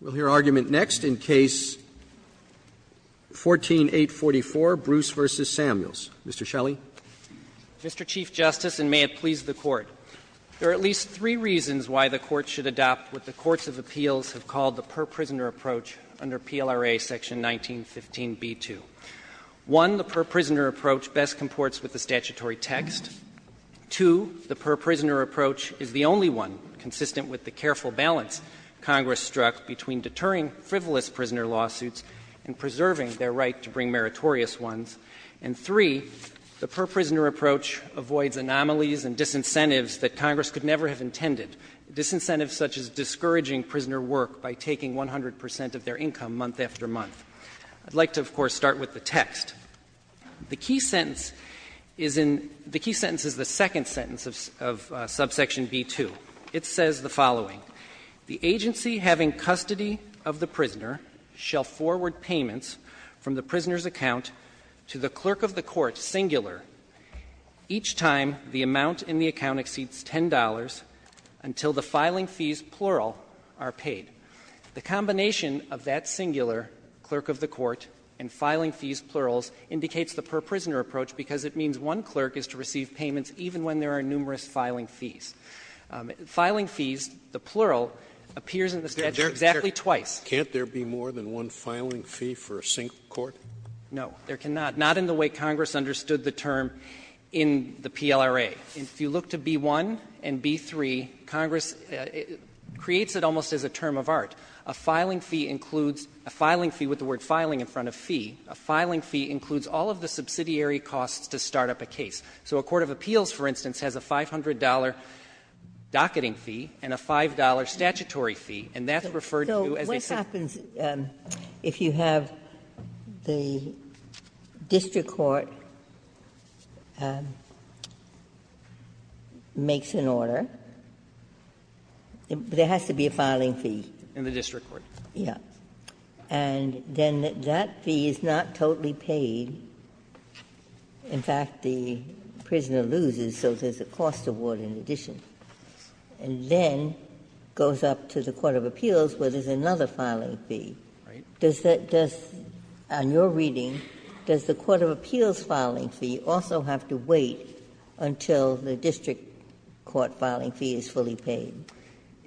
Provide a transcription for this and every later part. We'll hear argument next in Case 14-844, Bruce v. Samuels. Mr. Shelley. Mr. Chief Justice, and may it please the Court, there are at least three reasons why the Court should adopt what the courts of appeals have called the per-prisoner approach under PLRA Section 1915b2. One, the per-prisoner approach best comports with the statutory text. Two, the per-prisoner approach is the only one consistent with the careful balance Congress struck between deterring frivolous prisoner lawsuits and preserving their right to bring meritorious ones. And three, the per-prisoner approach avoids anomalies and disincentives that Congress could never have intended, disincentives such as discouraging prisoner work by taking 100 percent of their income month after month. I'd like to, of course, start with the text. The key sentence is in the second sentence of subsection b2. It says the following. The agency having custody of the prisoner shall forward payments from the prisoner's account to the clerk of the court, singular, each time the amount in the account exceeds $10 until the filing fees, plural, are paid. The combination of that singular, clerk of the court, and filing fees, plurals, indicates the per-prisoner approach because it means one clerk is to receive payments even when there are numerous filing fees. Filing fees, the plural, appears in the statute exactly twice. Scalia, Can't there be more than one filing fee for a single court? No, there cannot, not in the way Congress understood the term in the PLRA. If you look to b1 and b3, Congress creates it almost as a term of art. A filing fee includes a filing fee with the word filing in front of fee. A filing fee includes all of the subsidiary costs to start up a case. So a court of appeals, for instance, has a $500 docketing fee and a $5 statutory fee, and that's referred to as a separate fee. Ginsburg What happens if you have the district court makes an order? There has to be a filing fee. And then that fee is not totally paid. In fact, the prisoner loses, so there's a cost award in addition, and then goes up to the court of appeals where there's another filing fee. Does that just, on your reading, does the court of appeals filing fee also have to wait until the district court filing fee is fully paid?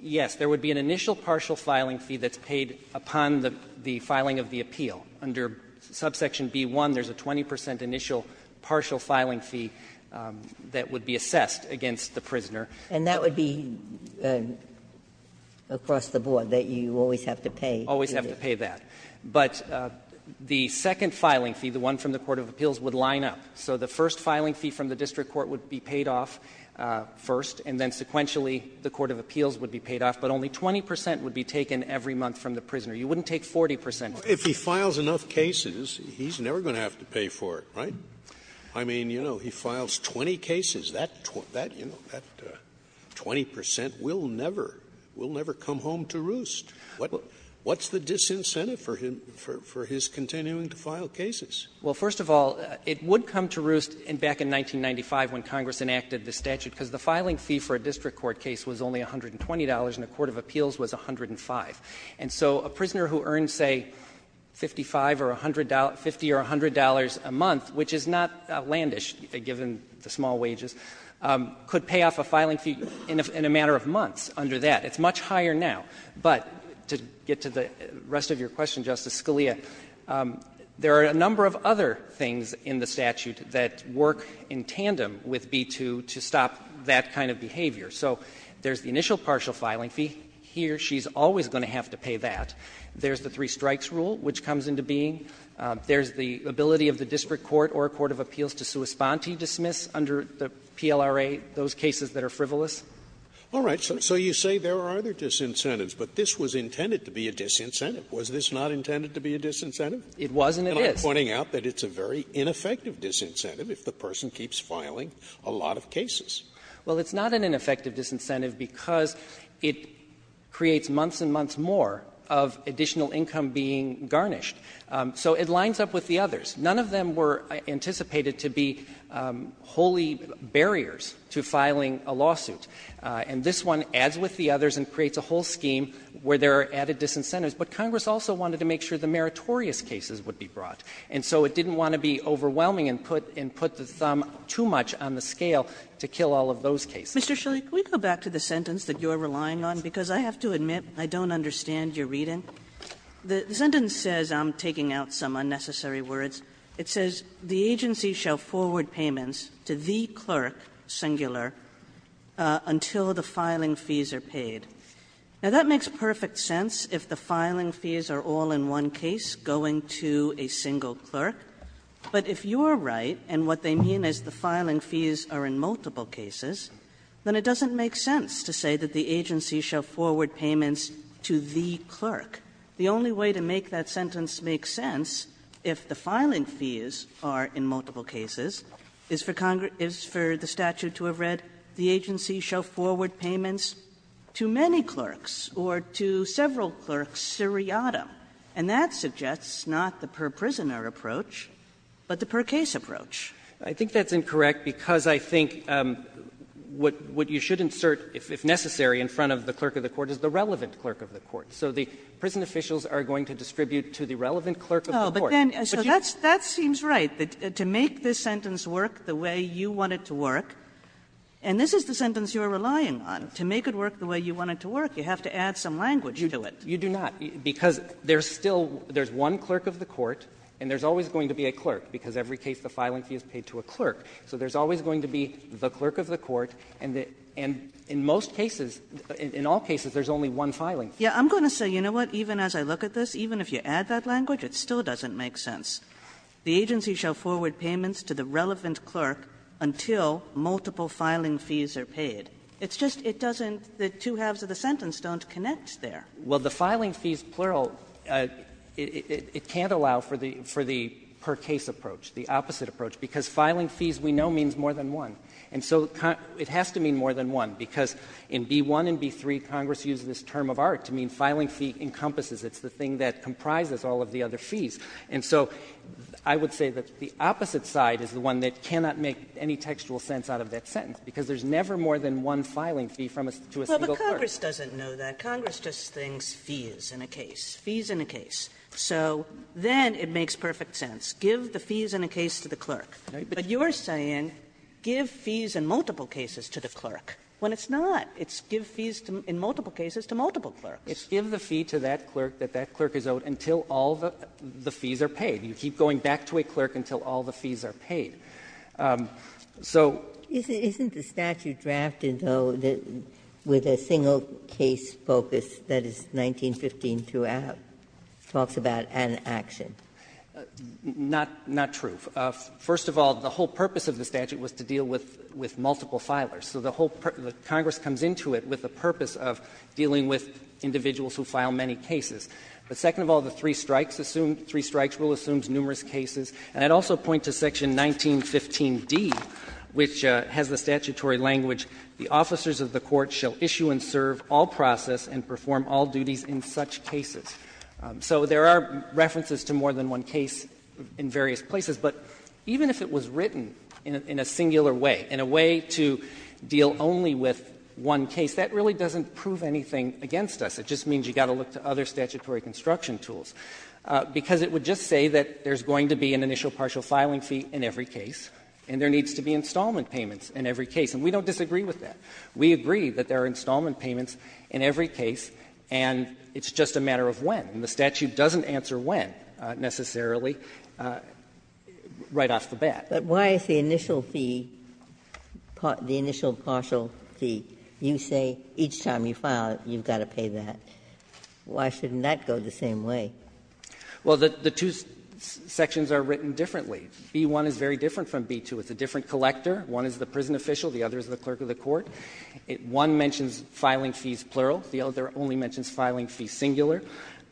Yes, there would be an initial partial filing fee that's paid upon the filing of the appeal. Under subsection b1, there's a 20 percent initial partial filing fee that would be assessed against the prisoner. And that would be across the board, that you always have to pay? Always have to pay that. But the second filing fee, the one from the court of appeals, would line up. So the first filing fee from the district court would be paid off first, and then sequentially the court of appeals would be paid off, but only 20 percent would be taken every month from the prisoner. You wouldn't take 40 percent. If he files enough cases, he's never going to have to pay for it, right? I mean, you know, he files 20 cases. That 20 percent will never, will never come home to roost. What's the disincentive for him, for his continuing to file cases? Well, first of all, it would come to roost back in 1995 when Congress enacted the statute, because the filing fee for a district court case was only $120, and the court of appeals was $105. And so a prisoner who earns, say, $55 or $100, $50 or $100 a month, which is not outlandish given the small wages, could pay off a filing fee in a matter of months under that. It's much higher now. But to get to the rest of your question, Justice Scalia, there are a number of other things in the statute that work in tandem with B-2 to stop that kind of behavior. So there's the initial partial filing fee. Here, she's always going to have to pay that. There's the three-strikes rule, which comes into being. There's the ability of the district court or a court of appeals to sua sponte dismiss under the PLRA those cases that are frivolous. All right. So you say there are other disincentives, but this was intended to be a disincentive. Was this not intended to be a disincentive? It was and it is. And I'm pointing out that it's a very ineffective disincentive if the person keeps filing a lot of cases. Well, it's not an ineffective disincentive because it creates months and months more of additional income being garnished. So it lines up with the others. None of them were anticipated to be wholly barriers to filing a lawsuit. And this one adds with the others and creates a whole scheme where there are added disincentives. But Congress also wanted to make sure the meritorious cases would be brought. And so it didn't want to be overwhelming and put the thumb too much on the scale to kill all of those cases. Kagan. Kagan. Ms. Shilley, can we go back to the sentence that you're relying on? Because I have to admit, I don't understand your reading. The sentence says – I'm taking out some unnecessary words – it says, the agency shall forward payments to the clerk, singular, until the filing fees are paid. Now, that makes perfect sense if the filing fees are all in one case going to a single clerk. But if you're right, and what they mean is the filing fees are in multiple cases, then it doesn't make sense to say that the agency shall forward payments to the clerk. The only way to make that sentence make sense, if the filing fees are in multiple cases, is for the statute to have read, the agency shall forward payments to many clerks, or to several clerks, seriatim. And that suggests not the per-prisoner approach, but the per-case approach. I think that's incorrect, because I think what you should insert, if necessary, in front of the clerk of the court is the relevant clerk of the court. So the prison officials are going to distribute to the relevant clerk of the court. Oh, but then, so that seems right, that to make this sentence work the way you want it to work, and this is the sentence you're relying on. To make it work the way you want it to work, you have to add some language to it. You do not. Because there's still one clerk of the court, and there's always going to be a clerk, because every case the filing fee is paid to a clerk. So there's always going to be the clerk of the court, and in most cases, in all cases, there's only one filing. Kagan. I'm going to say, you know what, even as I look at this, even if you add that language, it still doesn't make sense. The agency shall forward payments to the relevant clerk until multiple filing fees are paid. It's just it doesn't, the two halves of the sentence don't connect there. Well, the filing fees plural, it can't allow for the per case approach, the opposite approach, because filing fees we know means more than one. And so it has to mean more than one, because in B-1 and B-3, Congress used this term of art to mean filing fee encompasses. It's the thing that comprises all of the other fees. And so I would say that the opposite side is the one that cannot make any textual sense out of that sentence, because there's never more than one filing fee from a to a single clerk. Kagan. But Congress doesn't know that. Congress just thinks fees in a case, fees in a case. So then it makes perfect sense, give the fees in a case to the clerk. But you're saying give fees in multiple cases to the clerk, when it's not. It's give fees in multiple cases to multiple clerks. It's give the fee to that clerk that that clerk is owed until all the fees are paid. You keep going back to a clerk until all the fees are paid. So. Ginsburg. Isn't the statute drafted, though, with a single case focus that is 1915-2a, talks about an action? Not true. First of all, the whole purpose of the statute was to deal with multiple filers. So the whole per the Congress comes into it with the purpose of dealing with individuals who file many cases. But second of all, the three strikes rule assumes numerous cases. And I'd also point to section 1915-d, which has the statutory language, the officers of the court shall issue and serve all process and perform all duties in such cases. So there are references to more than one case in various places. But even if it was written in a singular way, in a way to deal only with one case, that really doesn't prove anything against us. It just means you've got to look to other statutory construction tools. Because it would just say that there's going to be an initial partial filing fee in every case, and there needs to be installment payments in every case. And we don't disagree with that. We agree that there are installment payments in every case, and it's just a matter of when. And the statute doesn't answer when, necessarily, right off the bat. But why is the initial fee, the initial partial fee, you say each time you file it, you've got to pay that? Why shouldn't that go the same way? Well, the two sections are written differently. B-1 is very different from B-2. It's a different collector. One is the prison official, the other is the clerk of the court. One mentions filing fees plural, the other only mentions filing fees singular.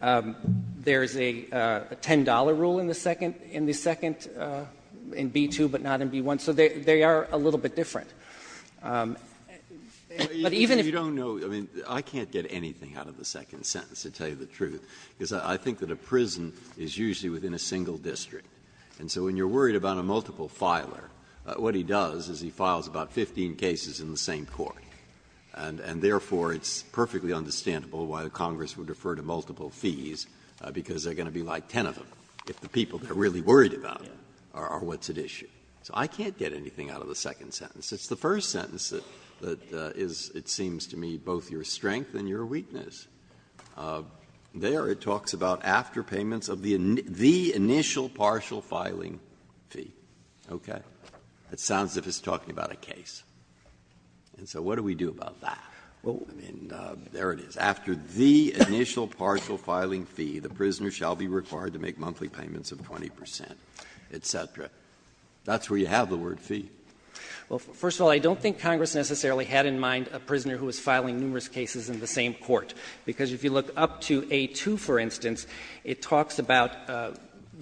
There's a $10 rule in the second, in B-2, but not in B-1. So they are a little bit different. But even if you don't know, I mean, I can't get anything out of the second sentence to tell you the truth, because I think that a prison is usually within a single district. And so when you're worried about a multiple filer, what he does is he files about 15 cases in the same court. And therefore, it's perfectly understandable why Congress would refer to multiple fees, because there are going to be like 10 of them, if the people that are really worried about it are what's at issue. So I can't get anything out of the second sentence. It's the first sentence that is, it seems to me, both your strength and your weakness. There it talks about after payments of the initial partial filing fee. Okay? It sounds as if it's talking about a case. And so what do we do about that? I mean, there it is. After the initial partial filing fee, the prisoner shall be required to make monthly payments of 20 percent, et cetera. That's where you have the word fee. Well, first of all, I don't think Congress necessarily had in mind a prisoner who was filing numerous cases in the same court. Because if you look up to A-2, for instance, it talks about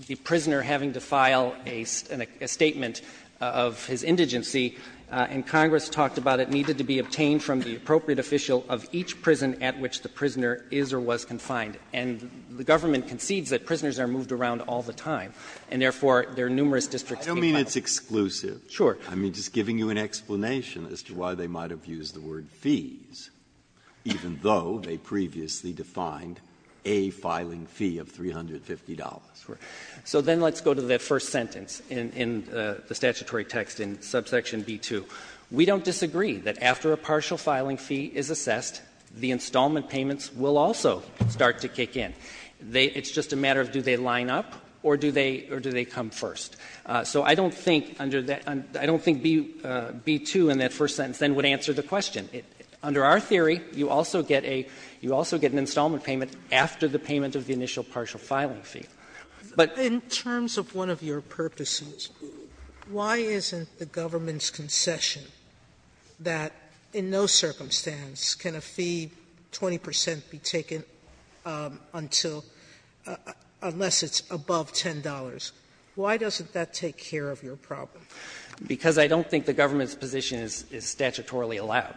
the prisoner having to file a statement of his indigency, and Congress talked about it needed to be obtained from the appropriate official of each prison at which the prisoner is or was confined. And the government concedes that prisoners are moved around all the time, and therefore there are numerous districts being filed. Breyer, I don't mean it's exclusive. Sure. I mean, just giving you an explanation as to why they might have used the word fees, even though they previously defined a filing fee of $350. So then let's go to that first sentence in the statutory text in subsection B-2. We don't disagree that after a partial filing fee is assessed, the installment payments will also start to kick in. It's just a matter of do they line up or do they come first. So I don't think under that — I don't think B-2 in that first sentence then would answer the question. Under our theory, you also get a — you also get an installment payment after the payment of the initial partial filing fee. But — Sotomayor, in terms of one of your purposes, why isn't the government's concession that in no circumstance can a fee, 20 percent, be taken until — unless it's above $10? Why doesn't that take care of your problem? Because I don't think the government's position is statutorily allowed.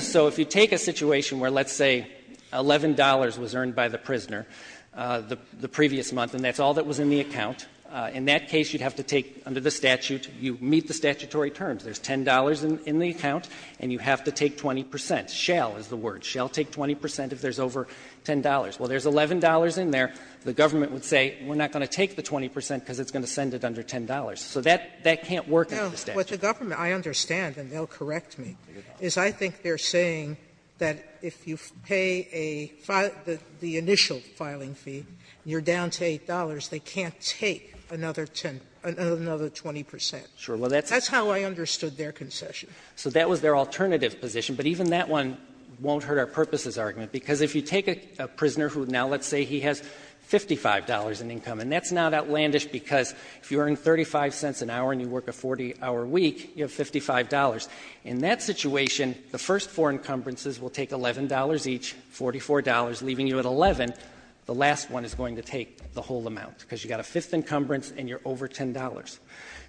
So if you take a situation where, let's say, $11 was earned by the prisoner the previous month, and that's all that was in the account, in that case you'd have to take under the statute, you meet the statutory terms. There's $10 in the account, and you have to take 20 percent. Shall is the word. Shall take 20 percent if there's over $10. Well, there's $11 in there. The government would say, we're not going to take the 20 percent because it's going to send it under $10. So that can't work under the statute. Sotomayor, what the government — I understand, and they'll correct me — is I think they're saying that if you pay a — the initial filing fee, you're down to $8, they can't take another 10 — another 20 percent. Sure. That's how I understood their concession. So that was their alternative position. But even that one won't hurt our purposes argument. Because if you take a prisoner who now, let's say, he has $55 in income, and that's not outlandish, because if you earn $0.35 an hour and you work a 40-hour week, you have $55. In that situation, the first four encumbrances will take $11 each, $44, leaving you at $11. The last one is going to take the whole amount, because you've got a fifth encumbrance and you're over $10.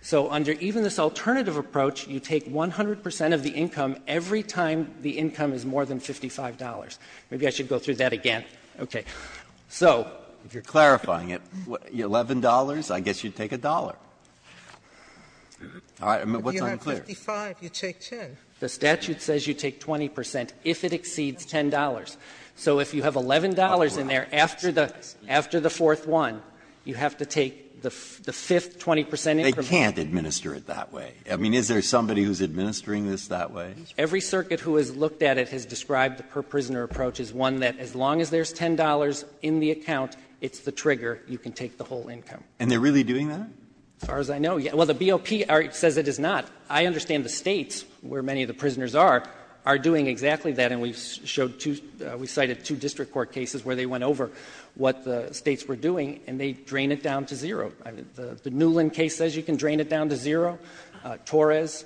So under even this alternative approach, you take 100 percent of the income every time the income is more than $55. Maybe I should go through that again. Okay. So if you're clarifying it, $11, I guess you'd take $1. All right. Sotomayor, you have $55, you take $10. The statute says you take 20 percent if it exceeds $10. So if you have $11 in there after the fourth one, you have to take the fifth 20 percent increment. They can't administer it that way. I mean, is there somebody who's administering this that way? Every circuit who has looked at it has described the per-prisoner approach as one that as long as there's $10 in the account, it's the trigger, you can take the whole income. And they're really doing that? As far as I know, yes. Well, the BOP says it is not. I understand the States, where many of the prisoners are, are doing exactly that. And we've cited two district court cases where they went over what the States were doing, and they drain it down to zero. The Newland case says you can drain it down to zero. Torres,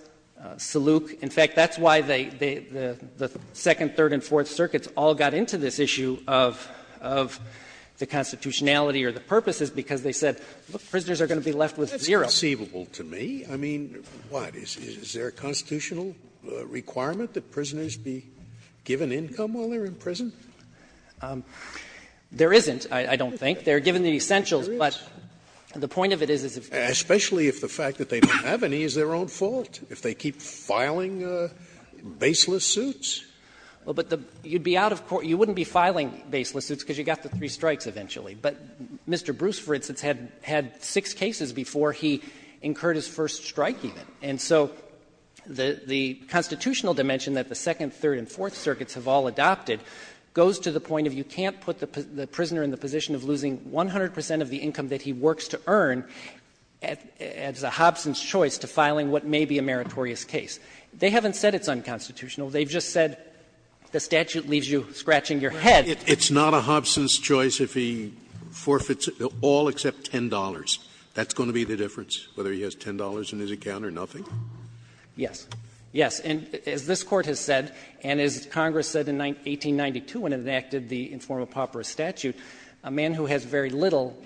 Saluk. In fact, that's why the second, third, and fourth circuits all got into this issue of the constitutionality or the purposes, because they said, look, prisoners are going to be left with zero. Scalia That's conceivable to me. I mean, what, is there a constitutional requirement that prisoners be given income while they're in prison? There isn't, I don't think. They're given the essentials, but the point of it is, is if you're in prison. Especially if the fact that they don't have any is their own fault. If they keep filing baseless suits? Well, but the you'd be out of court. You wouldn't be filing baseless suits because you got the three strikes eventually. But Mr. Bruce, for instance, had had six cases before he incurred his first strike even. And so the constitutional dimension that the second, third, and fourth circuits have all adopted goes to the point of you can't put the prisoner in the position of losing 100 percent of the income that he works to earn as a Hobson's choice to filing what may be a meritorious case. They haven't said it's unconstitutional. They've just said the statute leaves you scratching your head. Scalia It's not a Hobson's choice if he forfeits all except $10. That's going to be the difference, whether he has $10 in his account or nothing? Wessler Yes. Yes. And as this Court has said, and as Congress said in 1892 when it enacted the informal pauperous statute, a man who has very little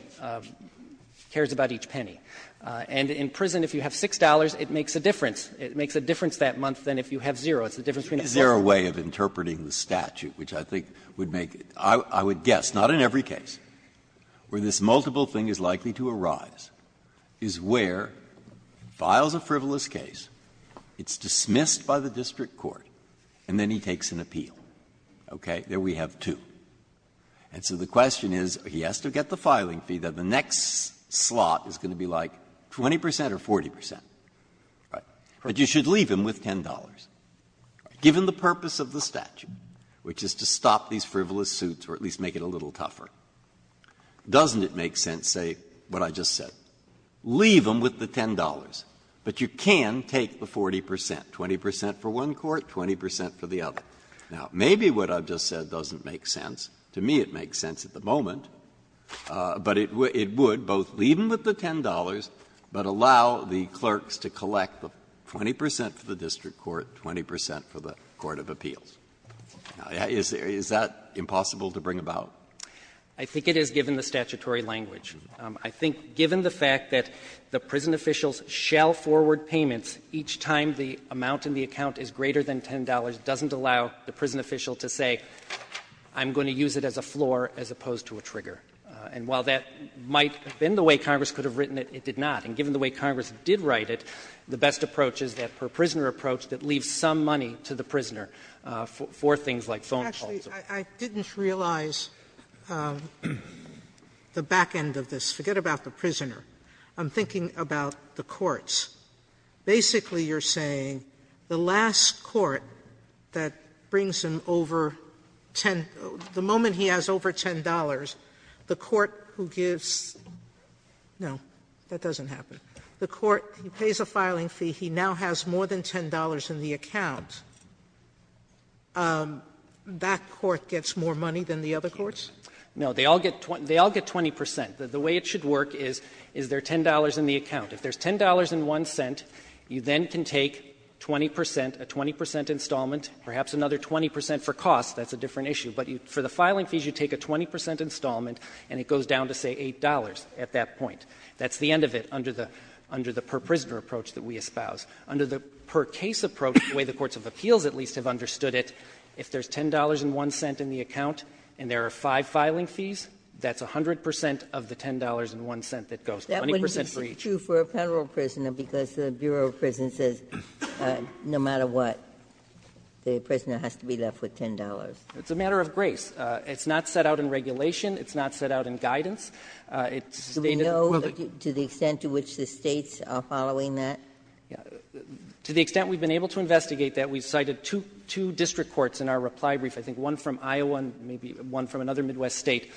cares about each penny. And in prison, if you have $6, it makes a difference. It makes a difference that month than if you have zero. It's the difference between a four and a five. Breyer Is there a way of interpreting the statute, which I think would make it, I would guess, not in every case, where this multiple thing is likely to arise, is where it files a frivolous case, it's dismissed by the district court, and then he takes an appeal, okay? There we have two. And so the question is, he has to get the filing fee, then the next slot is going to be like 20 percent or 40 percent. But you should leave him with $10. Given the purpose of the statute, which is to stop these frivolous suits or at least make it a little tougher, doesn't it make sense, say, what I just said? Leave him with the $10, but you can take the 40 percent, 20 percent for one court, 20 percent for the other. Now, maybe what I've just said doesn't make sense. To me, it makes sense at the moment, but it would, both leave him with the $10, but allow the clerks to collect the 20 percent for the district court, 20 percent for the court of appeals. Now, is that impossible to bring about? I think it is, given the statutory language. I think, given the fact that the prison officials shall forward payments each time the amount in the account is greater than $10 doesn't allow the prison official to say, I'm going to use it as a floor as opposed to a trigger. And while that might have been the way Congress could have written it, it did not. And given the way Congress did write it, the best approach is that per-prisoner approach that leaves some money to the prisoner for things like phone calls. Sotomayor, I didn't realize the back end of this. I'm thinking about the courts. Basically, you're saying the last court that brings him over 10 the moment he has over $10, the court who gives no, that doesn't happen, the court who pays a filing fee, he now has more than $10 in the account. That court gets more money than the other courts? No, they all get 20 percent. The way it should work is, is there $10 in the account? If there's $10.01, you then can take 20 percent, a 20 percent installment, perhaps another 20 percent for costs, that's a different issue. But for the filing fees, you take a 20 percent installment, and it goes down to, say, $8 at that point. That's the end of it under the per-prisoner approach that we espouse. Under the per-case approach, the way the courts of appeals at least have understood it, if there's $10.01 in the account and there are five filing fees, that's 100 percent of the $10.01 that goes, 20 percent for each. It's not true for a Federal prisoner because the Bureau of Prisons says no matter what, the prisoner has to be left with $10. It's a matter of grace. It's not set out in regulation. It's not set out in guidance. It's stated in the public. Do we know to the extent to which the States are following that? To the extent we've been able to investigate that, we've cited two district courts in our reply brief, I think one from Iowa and maybe one from another Midwest State,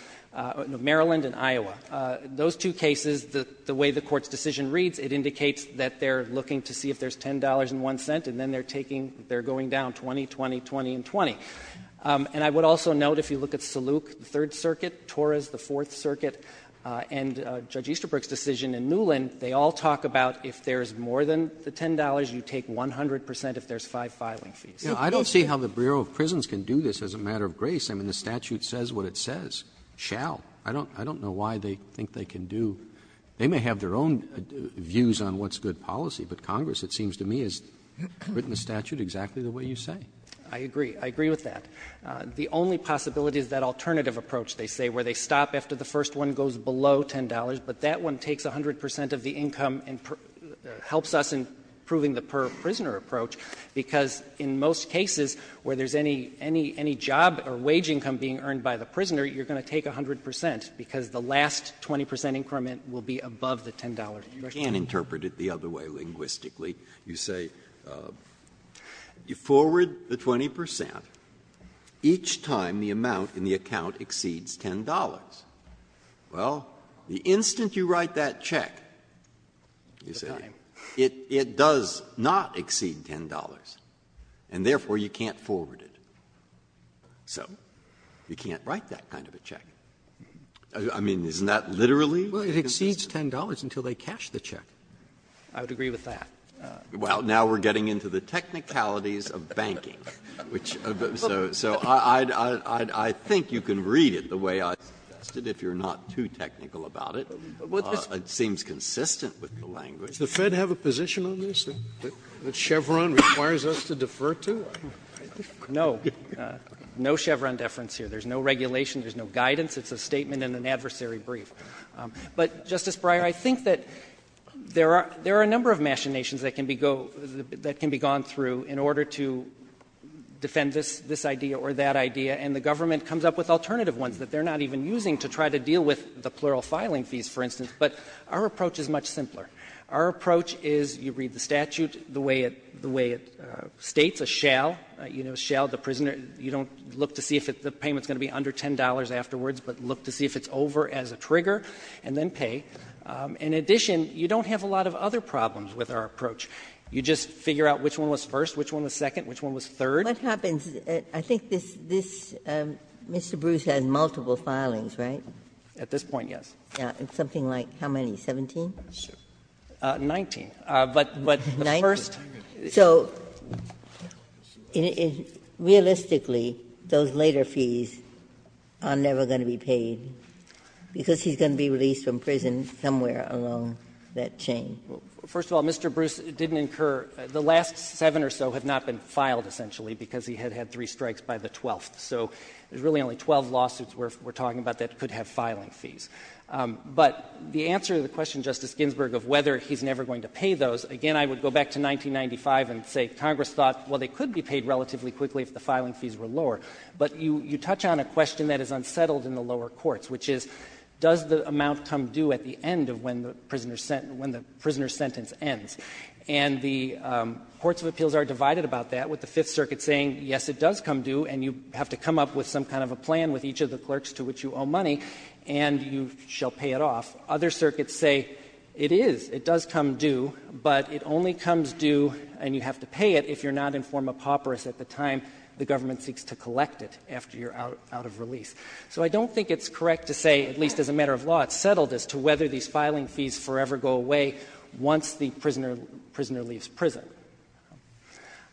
Maryland and Iowa. Those two cases, the way the Court's decision reads, it indicates that they're looking to see if there's $10.01, and then they're taking, they're going down 20, 20, 20 and 20. And I would also note if you look at Saluk, the Third Circuit, Torres, the Fourth Circuit, and Judge Easterbrook's decision in Newland, they all talk about if there's more than the $10, you take 100 percent if there's five filing fees. Roberts, I don't see how the Bureau of Prisons can do this as a matter of grace. I mean, the statute says what it says, shall. I don't know why they think they can do — they may have their own views on what's good policy, but Congress, it seems to me, has written the statute exactly the way you say. I agree. I agree with that. The only possibility is that alternative approach, they say, where they stop after the first one goes below $10, but that one takes 100 percent of the income and helps us in proving the per-prisoner approach, because in most cases where there's any, any, any job or wage income being earned by the prisoner, you're going to take 100 percent, because the last 20 percent increment will be above the $10. Breyer, you can't interpret it the other way linguistically. You say you forward the 20 percent each time the amount in the account exceeds $10. Well, the instant you write that check, you say, it does not exceed $10, and therefore you can't forward it. So you can't write that kind of a check. I mean, isn't that literally? Well, it exceeds $10 until they cash the check. I would agree with that. Well, now we're getting into the technicalities of banking, which so I think you can read it the way I suggested, if you're not too technical about it. It seems consistent with the language. Does the Fed have a position on this, that Chevron requires us to defer to? No. No Chevron deference here. There's no regulation. There's no guidance. It's a statement and an adversary brief. But, Justice Breyer, I think that there are a number of machinations that can be gone through in order to defend this idea or that idea, and the government comes up with alternative ones that they're not even using to try to deal with the plural filing fees, for instance, but our approach is much simpler. Our approach is, you read the statute, the way it states, a shall, you know, shall the prisoner, you don't look to see if the payment is going to be under $10 afterwards, but look to see if it's over as a trigger and then pay. In addition, you don't have a lot of other problems with our approach. You just figure out which one was first, which one was second, which one was third. What happens, I think this, Mr. Bruce, has multiple filings, right? At this point, yes. Something like how many, 17? 19. But the first. Ginsburg. So realistically, those later fees are never going to be paid because he's going to be released from prison somewhere along that chain. First of all, Mr. Bruce, it didn't incur the last seven or so have not been filed, essentially, because he had had three strikes by the 12th. So there's really only 12 lawsuits we're talking about that could have filing fees. But the answer to the question, Justice Ginsburg, of whether he's never going to pay those, again, I would go back to 1995 and say Congress thought, well, they could be paid relatively quickly if the filing fees were lower. But you touch on a question that is unsettled in the lower courts, which is, does the amount come due at the end of when the prisoner's sentence ends? And the courts of appeals are divided about that, with the Fifth Circuit saying, yes, it does come due, and you have to come up with some kind of a plan with each of the clerks to which you owe money, and you shall pay it off. Other circuits say, it is, it does come due, but it only comes due and you have to pay it if you're not in forma pauperis at the time the government seeks to collect it after you're out of release. So I don't think it's correct to say, at least as a matter of law, it's settled as to whether these filing fees forever go away once the prisoner leaves prison.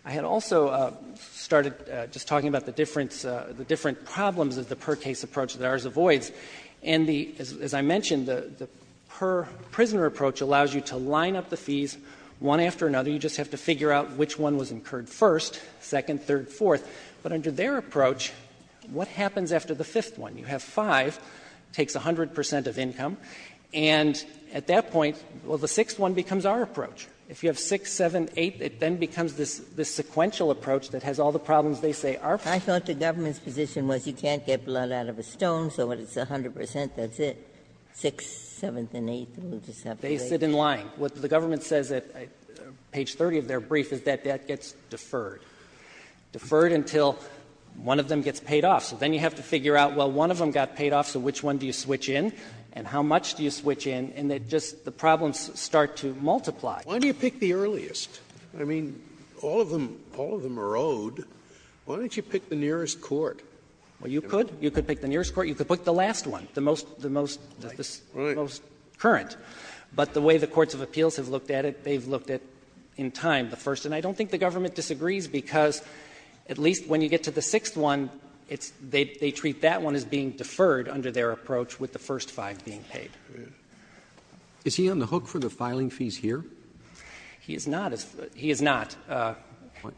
I had also started just talking about the difference of the different problems of the per case approach that ours avoids. And the, as I mentioned, the per-prisoner approach allows you to line up the fees one after another. You just have to figure out which one was incurred first, second, third, fourth. But under their approach, what happens after the fifth one? You have five, it takes 100 percent of income, and at that point, well, the sixth one becomes our approach. If you have six, seven, eight, it then becomes this sequential approach that has all the problems they say are present. Ginsburg's position was you can't get blood out of a stone, so when it's 100 percent, that's it. Six, seventh, and eighth, we'll just have to wait. They sit in line. What the government says at page 30 of their brief is that that gets deferred, deferred until one of them gets paid off. So then you have to figure out, well, one of them got paid off, so which one do you switch in, and how much do you switch in, and then just the problems start to multiply. Why do you pick the earliest? I mean, all of them, all of them are owed. Why don't you pick the nearest court? Well, you could. You could pick the nearest court. You could pick the last one, the most the most current. But the way the courts of appeals have looked at it, they've looked at in time the first. And I don't think the government disagrees, because at least when you get to the sixth one, it's they treat that one as being deferred under their approach with the first five being paid. Roberts. Is he on the hook for the filing fees here? He is not. He is not.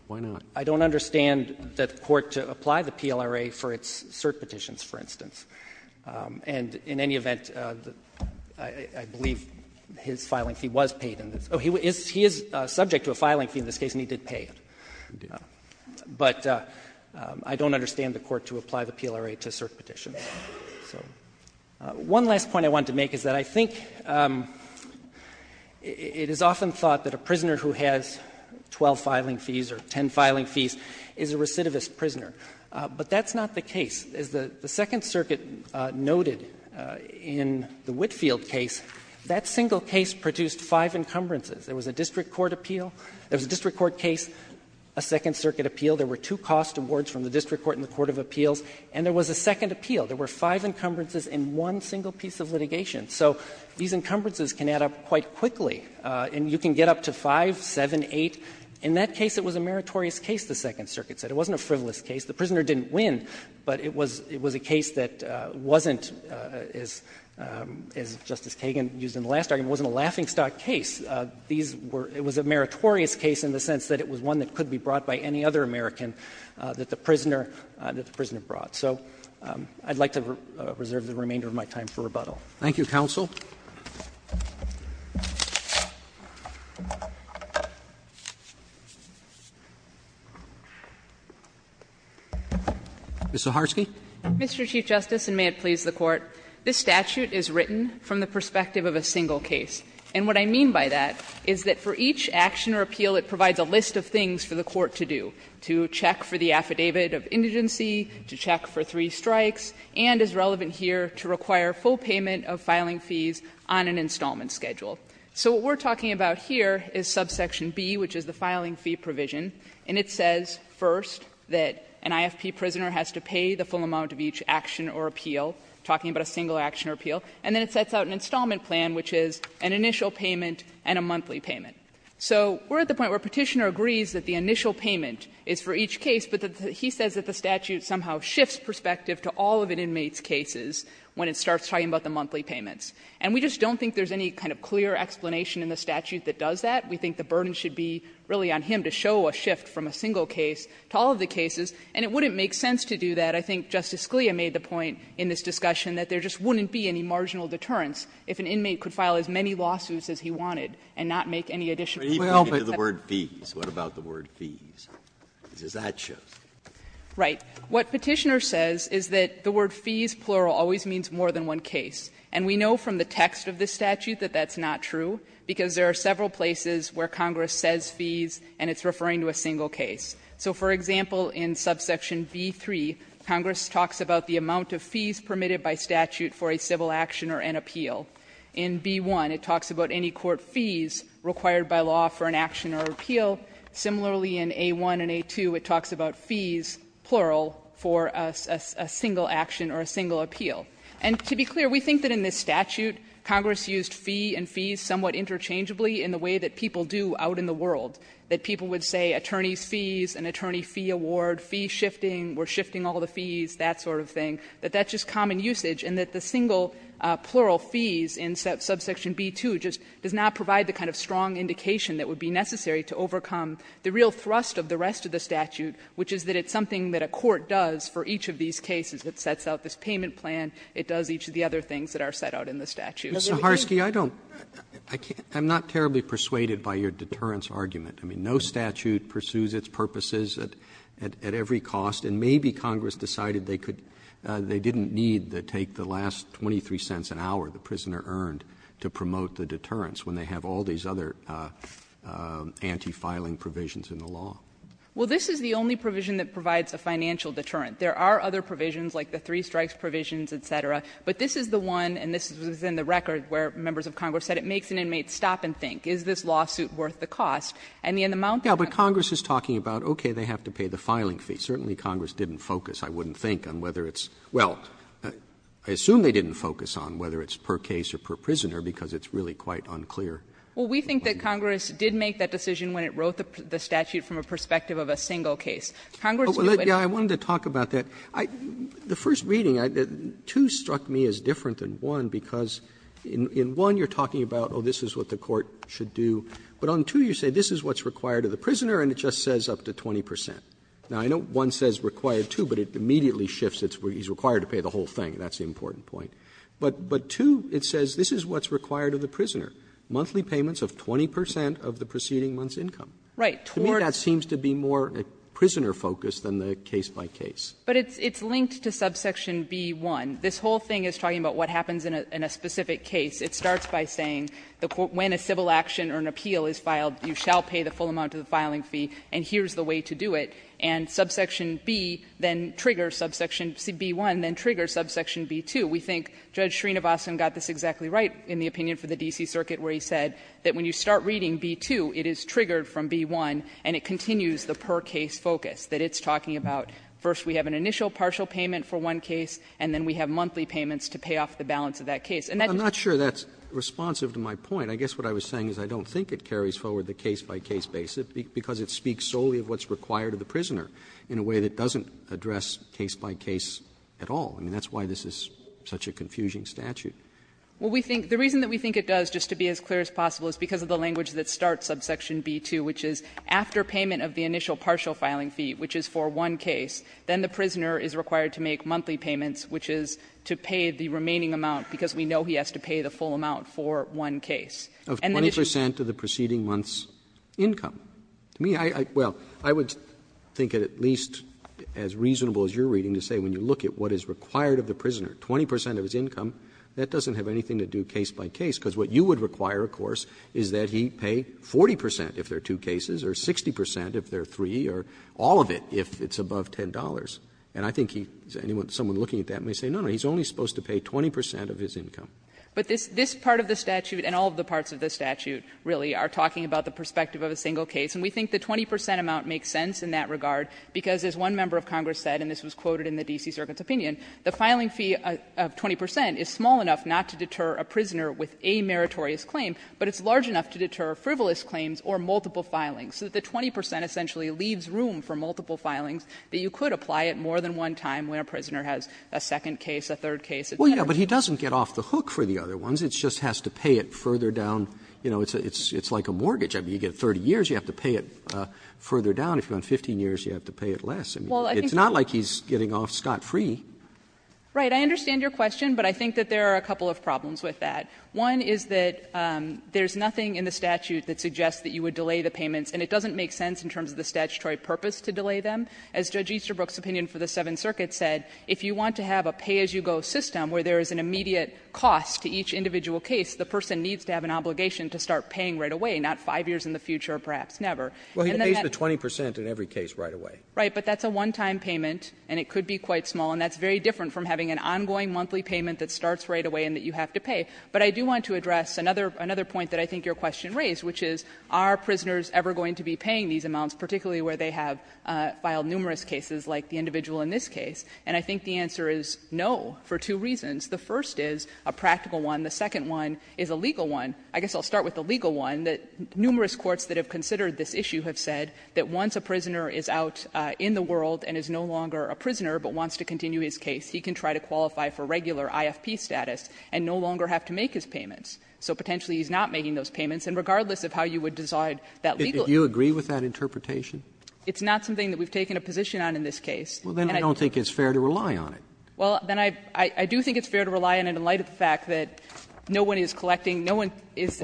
Why not? I don't understand the court to apply the PLRA for its cert petitions, for instance. And in any event, I believe his filing fee was paid in this. Oh, he is subject to a filing fee in this case, and he did pay it. But I don't understand the court to apply the PLRA to cert petitions. So one last point I wanted to make is that I think it is often thought that a prisoner who has 12 filing fees or 10 filing fees is a recidivist prisoner. But that's not the case. As the Second Circuit noted in the Whitfield case, that single case produced five encumbrances. There was a district court appeal. There was a district court case, a Second Circuit appeal. There were two cost awards from the district court and the court of appeals. And there was a second appeal. There were five encumbrances in one single piece of litigation. So these encumbrances can add up quite quickly. And you can get up to five, seven, eight. In that case, it was a meritorious case, the Second Circuit said. It wasn't a frivolous case. The prisoner didn't win, but it was a case that wasn't, as Justice Kagan used in the last argument, wasn't a laughingstock case. These were — it was a meritorious case in the sense that it was one that could be brought by any other American that the prisoner brought. So I would like to reserve the remainder of my time for rebuttal. Roberts Thank you, counsel. Ms. Zaharsky. Zaharsky Mr. Chief Justice, and may it please the Court, this statute is written from the perspective of a single case. And what I mean by that is that for each action or appeal, it provides a list of things for the court to do, to check for the affidavit of indigency, to check for three payment of filing fees on an installment schedule. So what we're talking about here is subsection B, which is the filing fee provision. And it says, first, that an IFP prisoner has to pay the full amount of each action or appeal, talking about a single action or appeal, and then it sets out an installment plan, which is an initial payment and a monthly payment. So we're at the point where Petitioner agrees that the initial payment is for each case, but he says that the statute somehow shifts perspective to all of an inmate's monthly payments. And we just don't think there's any kind of clear explanation in the statute that does that. We think the burden should be really on him to show a shift from a single case to all of the cases, and it wouldn't make sense to do that. I think Justice Scalia made the point in this discussion that there just wouldn't be any marginal deterrence if an inmate could file as many lawsuits as he wanted and not make any additional claims. Breyer But he pointed to the word fees. What about the word fees? Because that shows. Zaharsky Right. What Petitioner says is that the word fees, plural, always means more than one case. And we know from the text of the statute that that's not true, because there are several places where Congress says fees and it's referring to a single case. So, for example, in subsection B-3, Congress talks about the amount of fees permitted by statute for a civil action or an appeal. In B-1, it talks about any court fees required by law for an action or appeal. Similarly, in A-1 and A-2, it talks about fees, plural, for a single action or a single appeal. And to be clear, we think that in this statute, Congress used fee and fees somewhat interchangeably in the way that people do out in the world, that people would say attorney's fees, an attorney fee award, fee shifting, we're shifting all the fees, that sort of thing, that that's just common usage and that the single plural fees in subsection B-2 just does not provide the kind of strong indication that would be necessary to overcome the real thrust of the rest of the statute, which is that it's something that a court does for each of these cases. It sets out this payment plan. It does each of the other things that are set out in the statute. Roberts I'm not terribly persuaded by your deterrence argument. I mean, no statute pursues its purposes at every cost, and maybe Congress decided they could they didn't need to take the last $0.23 an hour the prisoner earned to promote the deterrence when they have all these other anti-filing provisions in the law. Well, this is the only provision that provides a financial deterrent. There are other provisions like the three strikes provisions, et cetera, but this is the one, and this was in the record where members of Congress said it makes an inmate stop and think, is this lawsuit worth the cost? And the amount that Congress Roberts Yeah, but Congress is talking about, okay, they have to pay the filing fee. Certainly Congress didn't focus, I wouldn't think, on whether it's per case or per prisoner, because it's really quite unclear. Well, we think that Congress did make that decision when it wrote the statute from a perspective of a single case. Congress knew it. Roberts Well, yeah, I wanted to talk about that. The first reading, two struck me as different than one, because in one you are talking about, oh, this is what the court should do, but on two you say, this is what's required of the prisoner, and it just says up to 20 percent. Now, I know one says required two, but it immediately shifts, it's where he's required to pay the whole thing, and that's the important point. But two, it says this is what's required of the prisoner. Monthly payments of 20 percent of the preceding month's income. To me that seems to be more prisoner-focused than the case-by-case. But it's linked to subsection B-1. This whole thing is talking about what happens in a specific case. It starts by saying when a civil action or an appeal is filed, you shall pay the full amount of the filing fee, and here's the way to do it. And subsection B then triggers subsection CB-1, then triggers subsection B-2. We think Judge Srinivasan got this exactly right in the opinion for the D.C. Circuit, where he said that when you start reading B-2, it is triggered from B-1, and it continues the per-case focus, that it's talking about first we have an initial partial payment for one case, and then we have monthly payments to pay off the balance of that case. And that's just the way it is. Roberts, I'm not sure that's responsive to my point. I guess what I was saying is I don't think it carries forward the case-by-case basis, because it speaks solely of what's required of the prisoner in a way that doesn't address case-by-case at all. I mean, that's why this is such a confusing statute. Well, we think the reason that we think it does, just to be as clear as possible, is because of the language that starts subsection B-2, which is after payment of the initial partial filing fee, which is for one case, then the prisoner is required to make monthly payments, which is to pay the remaining amount, because we know he has to pay the full amount for one case. And the issue is that the prisoner is required to pay the remaining amount of the proceeding month's income. To me, I — well, I would think it at least as reasonable as you're reading to say when you look at what is required of the prisoner, 20 percent of his income, that doesn't have anything to do case-by-case, because what you would require, of course, is that he pay 40 percent if there are two cases, or 60 percent if there are three, or all of it if it's above $10. And I think he — someone looking at that may say, no, no, he's only supposed to pay 20 percent of his income. But this part of the statute and all of the parts of the statute really are talking about the perspective of a single case, and we think the 20 percent amount makes sense in that regard, because, as one member of Congress said, and this was quoted in the D.C. Circuit's opinion, the filing fee of 20 percent is small enough not to deter a prisoner with a meritorious claim, but it's large enough to deter frivolous claims or multiple filings. So that the 20 percent essentially leaves room for multiple filings, that you could apply it more than one time when a prisoner has a second case, a third case, a tenor. Roberts, Well, yes, but he doesn't get off the hook for the other ones. It just has to pay it further down, you know, it's like a mortgage. I mean, you get 30 years, you have to pay it further down. If you're on 15 years, you have to pay it less. I mean, it's not like he's getting off scot-free. Saharsky Right. I understand your question, but I think that there are a couple of problems with that. One is that there's nothing in the statute that suggests that you would delay the payments, and it doesn't make sense in terms of the statutory purpose to delay them. As Judge Easterbrook's opinion for the Seventh Circuit said, if you want to have a pay-as-you-go system where there is an immediate cost to each individual case, the person needs to have an obligation to start paying right away, not five years in the future or perhaps never. And then that's- Roberts Well, he pays the 20 percent in every case right away. Saharsky Right. But that's a one-time payment, and it could be quite small. And that's very different from having an ongoing monthly payment that starts right away and that you have to pay. But I do want to address another point that I think your question raised, which is, are prisoners ever going to be paying these amounts, particularly where they have filed numerous cases like the individual in this case? And I think the answer is no, for two reasons. The first is a practical one. The second one is a legal one. I guess I'll start with the legal one, that numerous courts that have considered this issue have said that once a prisoner is out in the world and is no longer a prisoner but wants to continue his case, he can try to qualify for regular IFP status and no longer have to make his payments. So potentially he's not making those payments. And regardless of how you would decide that legal- Roberts If you agree with that interpretation? Saharsky It's not something that we've taken a position on in this case. Roberts Well, then I don't think it's fair to rely on it. Saharsky Well, then I do think it's fair to rely on it in light of the fact that no one is collecting, no one is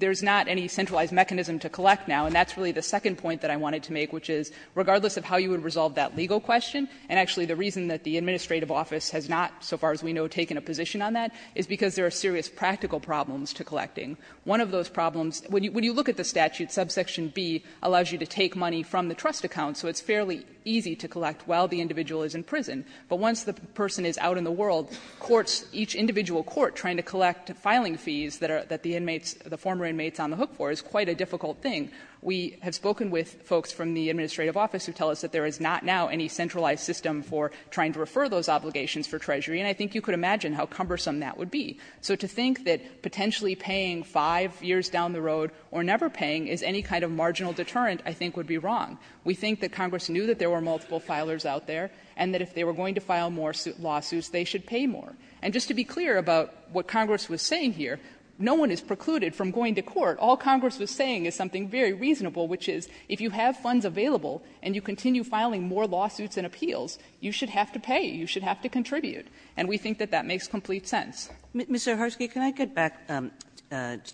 there's not any centralized mechanism to collect now, and that's really the second point that I wanted to make, which is regardless of how you would resolve that legal question, and actually the reason that the administrative office has not, so far as we know, taken a position on that is because there are serious practical problems to collecting. One of those problems, when you look at the statute, subsection B allows you to take money from the trust account, so it's fairly easy to collect while the individual is in prison. But once the person is out in the world, courts, each individual court trying to collect filing fees that are, that the inmates, the former inmates on the hook for is quite a difficult thing. We have spoken with folks from the administrative office who tell us that there is not now any centralized system for trying to refer those obligations for Treasury, and I think you could imagine how cumbersome that would be. So to think that potentially paying 5 years down the road or never paying is any kind of marginal deterrent I think would be wrong. We think that Congress knew that there were multiple filers out there and that if they were going to file more lawsuits, they should pay more. And just to be clear about what Congress was saying here, no one is precluded from going to court. All Congress was saying is something very reasonable, which is if you have funds available and you continue filing more lawsuits and appeals, you should have to pay, you should have to contribute. And we think that that makes complete sense. Kagan. Kagan. Kagan and Mr. Harske, can I go back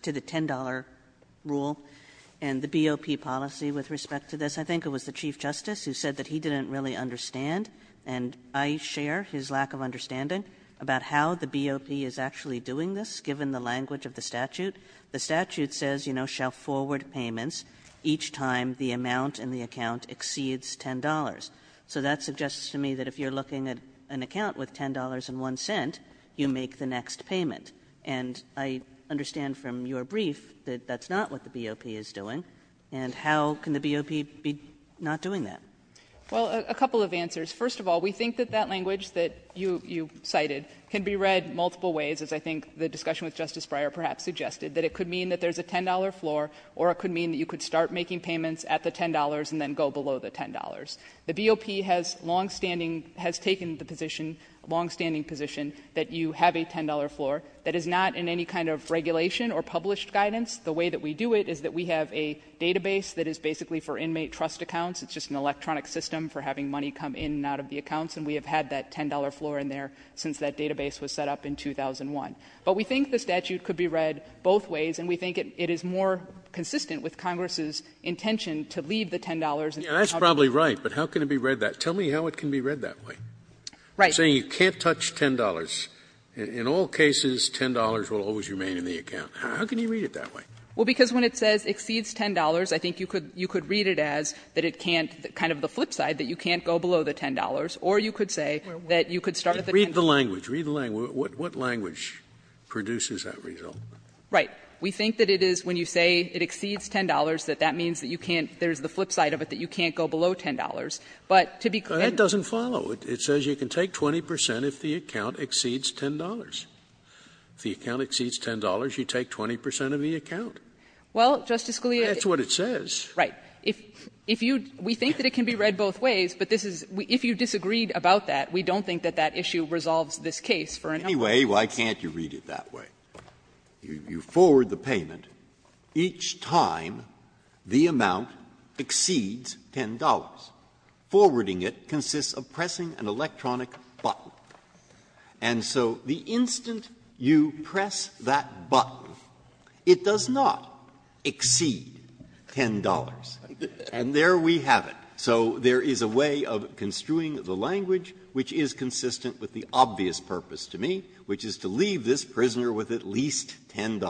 to the $10 rule and the BOP policy with respect to this? I think it was the Chief Justice who said that he didn't really understand, and I share his lack of understanding about how the BOP is actually doing this given the language of the statute. The statute says you know, shall forward payments each time the amount in the account exceeds $10. So that suggests to me that if you are looking at an account with $10.01, you make the next payment. And I understand from your brief that that's not what the BOP is doing, and how can the BOP be not doing that? Well, a couple of answers. First of all, we think that that language that you cited can be read multiple ways, as I think the discussion with Justice Breyer perhaps suggested, that it could mean that there's a $10 floor or it could mean that you could start making payments at the $10 and then go below the $10. The BOP has longstanding, has taken the position, longstanding position, that you have a $10 floor that is not in any kind of regulation or published guidance. The way that we do it is that we have a database that is basically for inmate trust accounts. It's just an electronic system for having money come in and out of the accounts, and we have had that $10 floor in there since that database was set up in 2001. But we think the statute could be read both ways, and we think it is more consistent with Congress's intention to leave the $10 in the account. Scalia, that's probably right, but how can it be read that way? Tell me how it can be read that way. I'm saying you can't touch $10. In all cases, $10 will always remain in the account. How can you read it that way? Well, because when it says exceeds $10, I think you could read it as that it can't kind of the flip side, that you can't go below the $10, or you could say that you could start at the $10. Read the language. Read the language. What language produces that result? Right. We think that it is, when you say it exceeds $10, that that means that you can't There's the flip side of it, that you can't go below $10. But to be clear, that doesn't follow. It says you can take 20 percent if the account exceeds $10. If the account exceeds $10, you take 20 percent of the account. Well, Justice Scalia, that's what it says. Right. If you, we think that it can be read both ways, but this is, if you disagreed about that, we don't think that that issue resolves this case for a number of reasons. Anyway, why can't you read it that way? You forward the payment each time the amount exceeds $10. Forwarding it consists of pressing an electronic button. And so the instant you press that button, it does not exceed $10. And there we have it. So there is a way of construing the language which is consistent with the obvious purpose to me, which is to leave this prisoner with at least $10.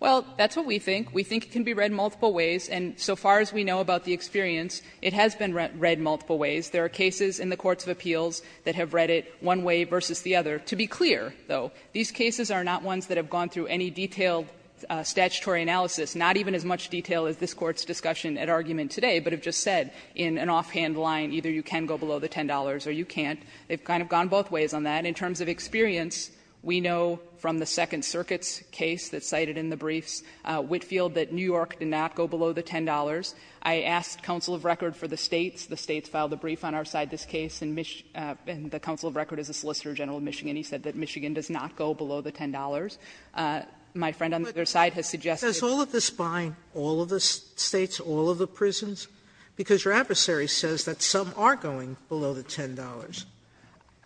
Well, that's what we think. We think it can be read multiple ways. And so far as we know about the experience, it has been read multiple ways. There are cases in the courts of appeals that have read it one way versus the other. To be clear, though, these cases are not ones that have gone through any detailed statutory analysis, not even as much detail as this Court's discussion at argument today, but have just said in an offhand line, either you can go below the $10 or you can't. They've kind of gone both ways on that. In terms of experience, we know from the Second Circuit's case that's cited in the briefs, Whitefield, that New York did not go below the $10. I asked counsel of record for the States. The States filed a brief on our side of this case, and the counsel of record is a solicitor general of Michigan. He said that Michigan does not go below the $10. My friend on the other side has suggested that the States do. Sotomayor, does all of this bind all of the States, all of the prisons? Because your adversary says that some are going below the $10.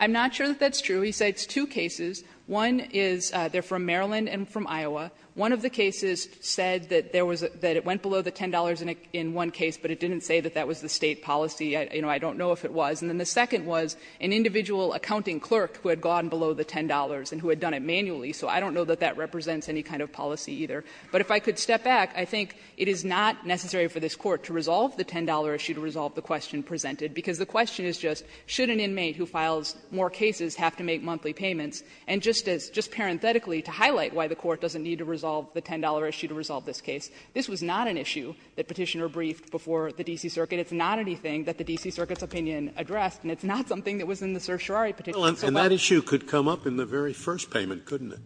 I'm not sure that that's true. He cites two cases. One is they're from Maryland and from Iowa. One of the cases said that there was a – that it went below the $10 in one case, but it didn't say that that was the State policy. You know, I don't know if it was. And then the second was an individual accounting clerk who had gone below the $10 and who had done it manually. So I don't know that that represents any kind of policy either. But if I could step back, I think it is not necessary for this Court to resolve the $10 issue to resolve the question presented, because the question is just, should an inmate who files more cases have to make monthly payments? And just as – just parenthetically, to highlight why the Court doesn't need to resolve the $10 issue to resolve this case, this was not an issue that Petitioner briefed before the D.C. Circuit. It's not anything that the D.C. Circuit's opinion addressed, and it's not something that was in the certiorari petition so well. Scalia, and that issue could come up in the very first payment, couldn't it?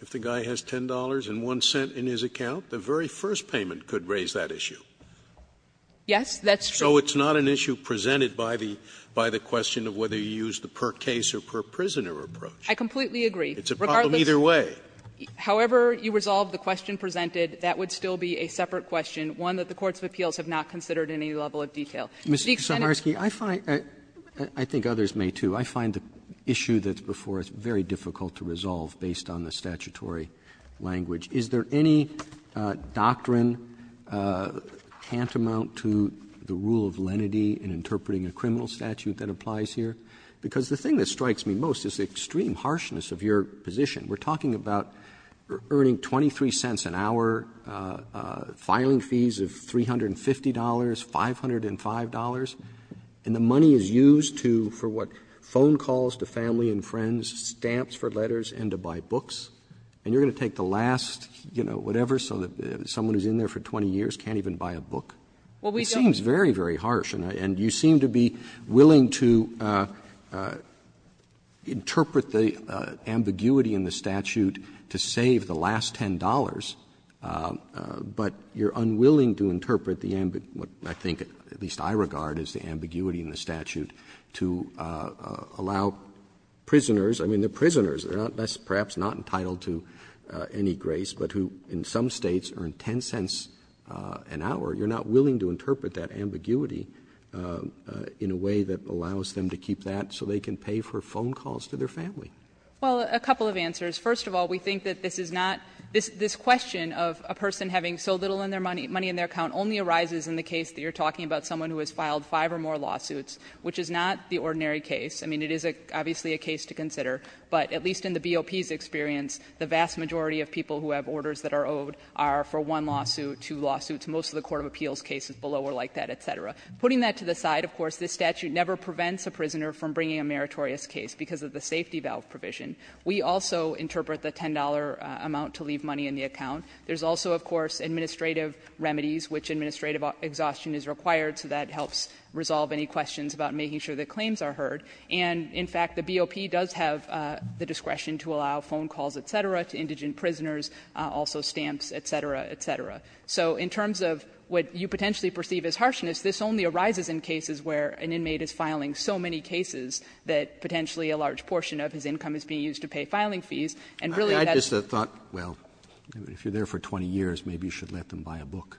If the guy has $10.01 in his account, the very first payment could raise that issue. Yes, that's true. Scalia, so it's not an issue presented by the question of whether you use the per-case or per-prisoner approach. I completely agree. It's a problem either way. However you resolve the question presented, that would still be a separate question, one that the courts of appeals have not considered in any level of detail. Mr. Kucinarski, I find – I think others may, too. I find the issue that's before us very difficult to resolve based on the statutory language. Is there any doctrine tantamount to the rule of lenity in interpreting a criminal statute that applies here? Because the thing that strikes me most is the extreme harshness of your position. We're talking about earning 23 cents an hour, filing fees of $350, $505, and the money is used to, for what, phone calls to family and friends, stamps for letters and to buy books. And you're going to take the last, you know, whatever, so that someone who's in there for 20 years can't even buy a book. It seems very, very harsh. And you seem to be willing to interpret the ambiguity in the statute to save the last $10, but you're unwilling to interpret the ambiguity, what I think, at least I regard, is the ambiguity in the statute to allow prisoners, I mean, they're prisoners, they're not, perhaps not entitled to any grace, but who in some States earn 10 cents an hour. You're not willing to interpret that ambiguity in a way that allows them to keep that so they can pay for phone calls to their family. Well, a couple of answers. First of all, we think that this is not, this question of a person having so little money in their account only arises in the case that you're talking about someone who has filed five or more lawsuits, which is not the ordinary case. I mean, it is obviously a case to consider, but at least in the BOP's experience, the vast majority of people who have orders that are owed are for one lawsuit, two lawsuits. Most of the court of appeals cases below are like that, et cetera. Putting that to the side, of course, this statute never prevents a prisoner from bringing a meritorious case because of the safety valve provision. We also interpret the $10 amount to leave money in the account. There's also, of course, administrative remedies, which administrative exhaustion is required, so that helps resolve any questions about making sure that claims are heard. And in fact, the BOP does have the discretion to allow phone calls, et cetera, to indigent prisoners, also stamps, et cetera, et cetera. So in terms of what you potentially perceive as harshness, this only arises in cases where an inmate is filing so many cases that potentially a large portion of his income is being used to pay filing fees, and really that's the thought. Roberts, if you're there for 20 years, maybe you should let them buy a book.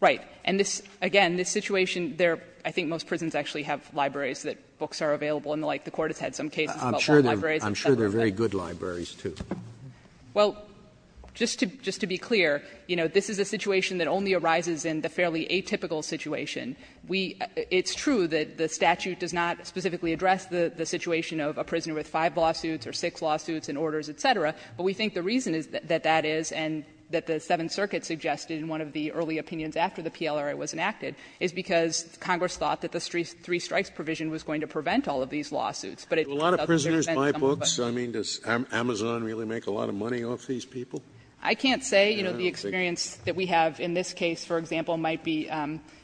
Right. And this, again, this situation there, I think most prisons actually have libraries that books are available and the like. The Court has had some cases about libraries. Roberts, I'm sure they're very good libraries, too. Well, just to be clear, you know, this is a situation that only arises in the fairly atypical situation. We — it's true that the statute does not specifically address the situation of a prisoner with five lawsuits or six lawsuits and orders, et cetera, but we think the reason that that is and that the Seventh Circuit suggested in one of the early opinions after the PLRA was enacted is because Congress thought that the three-strikes provision was going to prevent all of these lawsuits, but it doesn't prevent some of them. Scalia A lot of prisoners buy books. I mean, does Amazon really make a lot of money off these people? I don't think so. I can't say. You know, the experience that we have in this case, for example, might be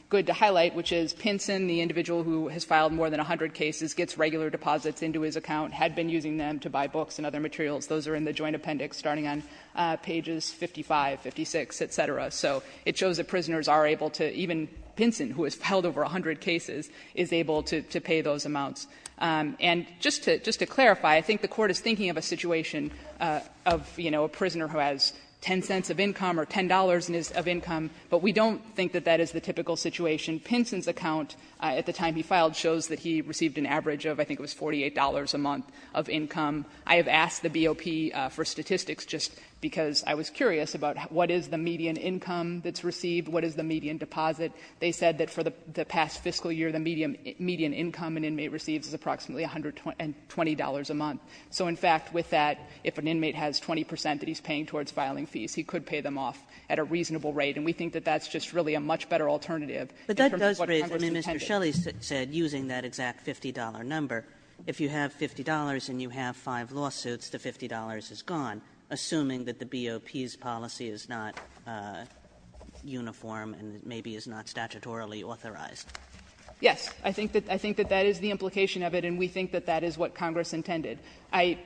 good to highlight, which is Pinson, the individual who has filed more than 100 cases, gets regular deposits into his account, had been using them to buy books and other materials. Those are in the joint appendix, starting on pages 55, 56, et cetera. So it shows that prisoners are able to, even Pinson, who has filed over 100 cases, is able to pay those amounts. And just to clarify, I think the Court is thinking of a situation of, you know, a prisoner who has 10 cents of income or $10 of income, but we don't think that that is the typical situation. Pinson's account at the time he filed shows that he received an average of, I think it was $48 a month of income. I have asked the BOP for statistics just because I was curious about what is the median income that's received, what is the median deposit. They said that for the past fiscal year, the median income an inmate receives is approximately $120 a month. So, in fact, with that, if an inmate has 20 percent that he's paying towards filing fees, he could pay them off at a reasonable rate. And we think that that's just really a much better alternative in terms of what Congress intended. Kagan. If you have $50 and you have five lawsuits, the $50 is gone, assuming that the BOP's policy is not uniform and maybe is not statutorily authorized. Yes. I think that that is the implication of it, and we think that that is what Congress intended. I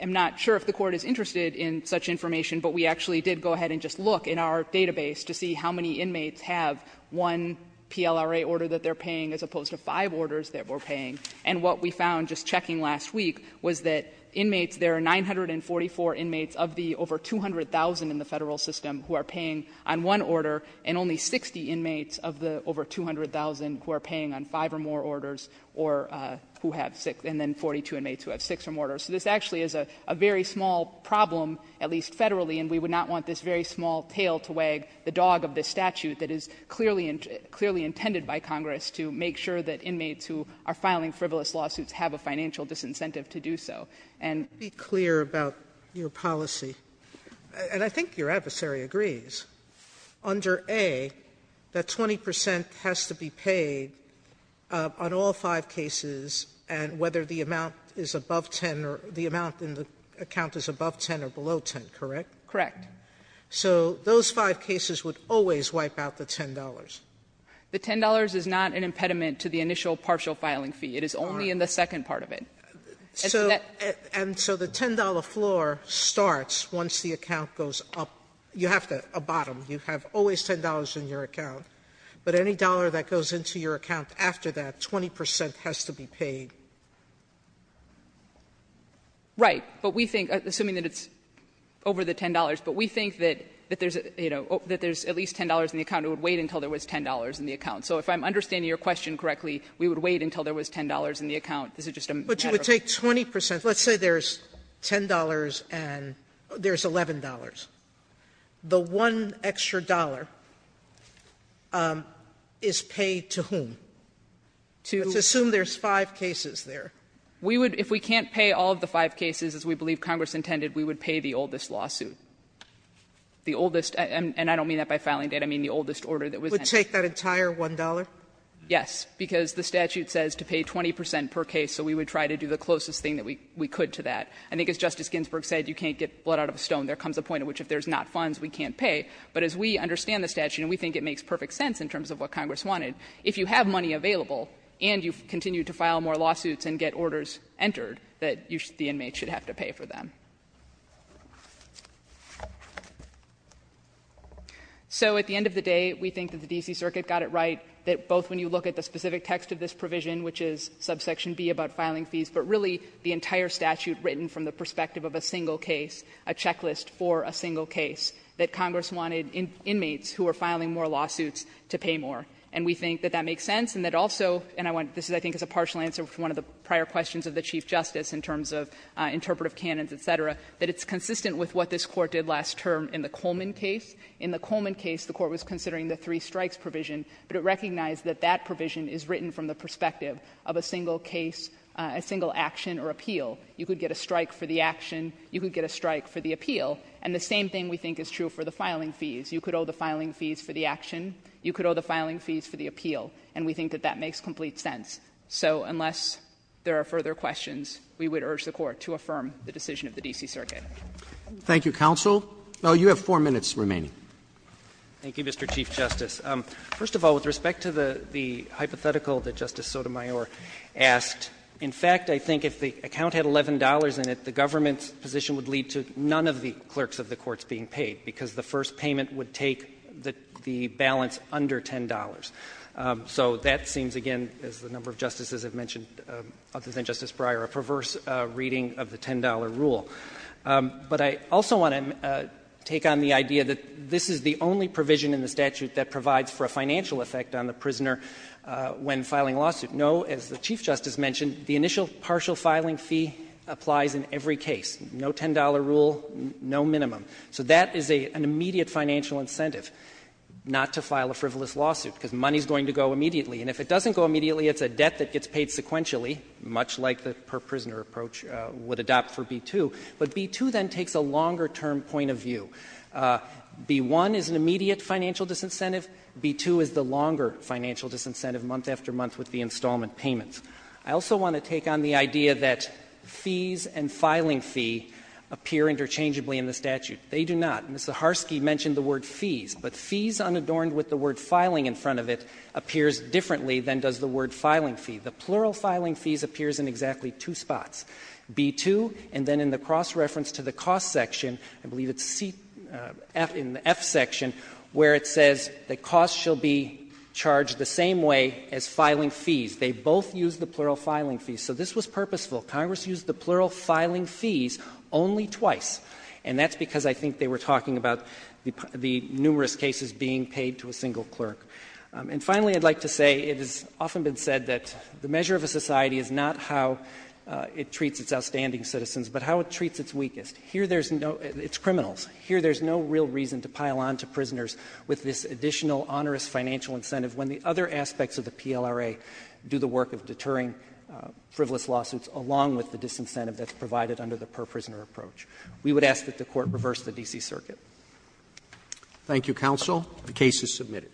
am not sure if the Court is interested in such information, but we actually did go ahead and just look in our database to see how many inmates have one PLRA order that they're paying as opposed to five orders that we're paying. And what we found just checking last week was that inmates, there are 944 inmates of the over 200,000 in the Federal system who are paying on one order and only 60 inmates of the over 200,000 who are paying on five or more orders or who have six, and then 42 inmates who have six or more orders. So this actually is a very small problem, at least Federally, and we would not want this very small tail to wag the dog of this statute that is clearly intended by Congress to make sure that inmates who are filing frivolous lawsuits have a financial disincentive to do so. Sotomayor, let me be clear about your policy, and I think your adversary agrees. Under A, that 20 percent has to be paid on all five cases, and whether the amount is above 10 or the amount in the account is above 10 or below 10, correct? Correct. So those five cases would always wipe out the $10? It is not an impediment to the initial partial filing fee. It is only in the second part of it. And so the $10 floor starts once the account goes up. You have to abut them. You have always $10 in your account, but any dollar that goes into your account after that, 20 percent has to be paid. Right. But we think, assuming that it's over the $10, but we think that there's, you know, that there's at least $10 in the account, it would wait until there was $10 in the account. So if I'm understanding your question correctly, we would wait until there was $10 in the account. This is just a matter of the case. But you would take 20 percent. Let's say there's $10 and there's $11. The one extra dollar is paid to whom? To assume there's five cases there. We would, if we can't pay all of the five cases as we believe Congress intended, we would pay the oldest lawsuit. The oldest, and I don't mean that by filing date, I mean the oldest order that was entered. Sotomayor, did you take that entire $1? Yes, because the statute says to pay 20 percent per case, so we would try to do the closest thing that we could to that. I think as Justice Ginsburg said, you can't get blood out of a stone. There comes a point at which if there's not funds, we can't pay. But as we understand the statute, and we think it makes perfect sense in terms of what Congress wanted, if you have money available and you continue to file more lawsuits and get orders entered, that the inmate should have to pay for them. So at the end of the day, we think that the D.C. Circuit got it right, that both when you look at the specific text of this provision, which is subsection B about filing fees, but really the entire statute written from the perspective of a single case, a checklist for a single case, that Congress wanted inmates who are filing more lawsuits to pay more. And we think that that makes sense, and that also, and I want to, this I think is a partial answer to one of the prior questions of the Chief Justice in terms of interpretive canons, et cetera, that it's consistent with what this Court did last term in the Coleman case. In the Coleman case, the Court was considering the three strikes provision, but it recognized that that provision is written from the perspective of a single case, a single action or appeal. You could get a strike for the action. You could get a strike for the appeal. And the same thing we think is true for the filing fees. You could owe the filing fees for the action. You could owe the filing fees for the appeal. And we think that that makes complete sense. So unless there are further questions, we would urge the Court to affirm the decision of the D.C. Circuit. Roberts. Thank you, counsel. No, you have four minutes remaining. Thank you, Mr. Chief Justice. First of all, with respect to the hypothetical that Justice Sotomayor asked, in fact, I think if the account had $11 in it, the government's position would lead to none of the clerks of the courts being paid, because the first payment would take the balance under $10. So that seems, again, as a number of justices have mentioned, other than Justice Breyer, a perverse reading of the $10 rule. But I also want to take on the idea that this is the only provision in the statute that provides for a financial effect on the prisoner when filing a lawsuit. No, as the Chief Justice mentioned, the initial partial filing fee applies in every case. No $10 rule, no minimum. So that is an immediate financial incentive, not to file a frivolous lawsuit, because money is going to go immediately. And if it doesn't go immediately, it's a debt that gets paid sequentially, much like the per-prisoner approach would adopt for B-2. But B-2 then takes a longer-term point of view. B-1 is an immediate financial disincentive. B-2 is the longer financial disincentive, month after month with the installment payments. I also want to take on the idea that fees and filing fee appear interchangeably in the statute. They do not. Ms. Zaharsky mentioned the word fees, but fees unadorned with the word filing in front of it appears differently than does the word filing fee. The plural filing fees appears in exactly two spots, B-2 and then in the cross-reference to the cost section, I believe it's C, in the F section, where it says that costs shall be charged the same way as filing fees. They both use the plural filing fees. So this was purposeful. Congress used the plural filing fees only twice, and that's because I think they were talking about the numerous cases being paid to a single clerk. And finally, I'd like to say it has often been said that the measure of a society is not how it treats its outstanding citizens, but how it treats its weakest. Here there's no — it's criminals. Here there's no real reason to pile on to prisoners with this additional onerous financial incentive when the other aspects of the PLRA do the work of deterring frivolous lawsuits along with the disincentive that's provided under the per-prisoner approach. We would ask that the Court reverse the D.C. Circuit. Roberts. Thank you, counsel. The case is submitted.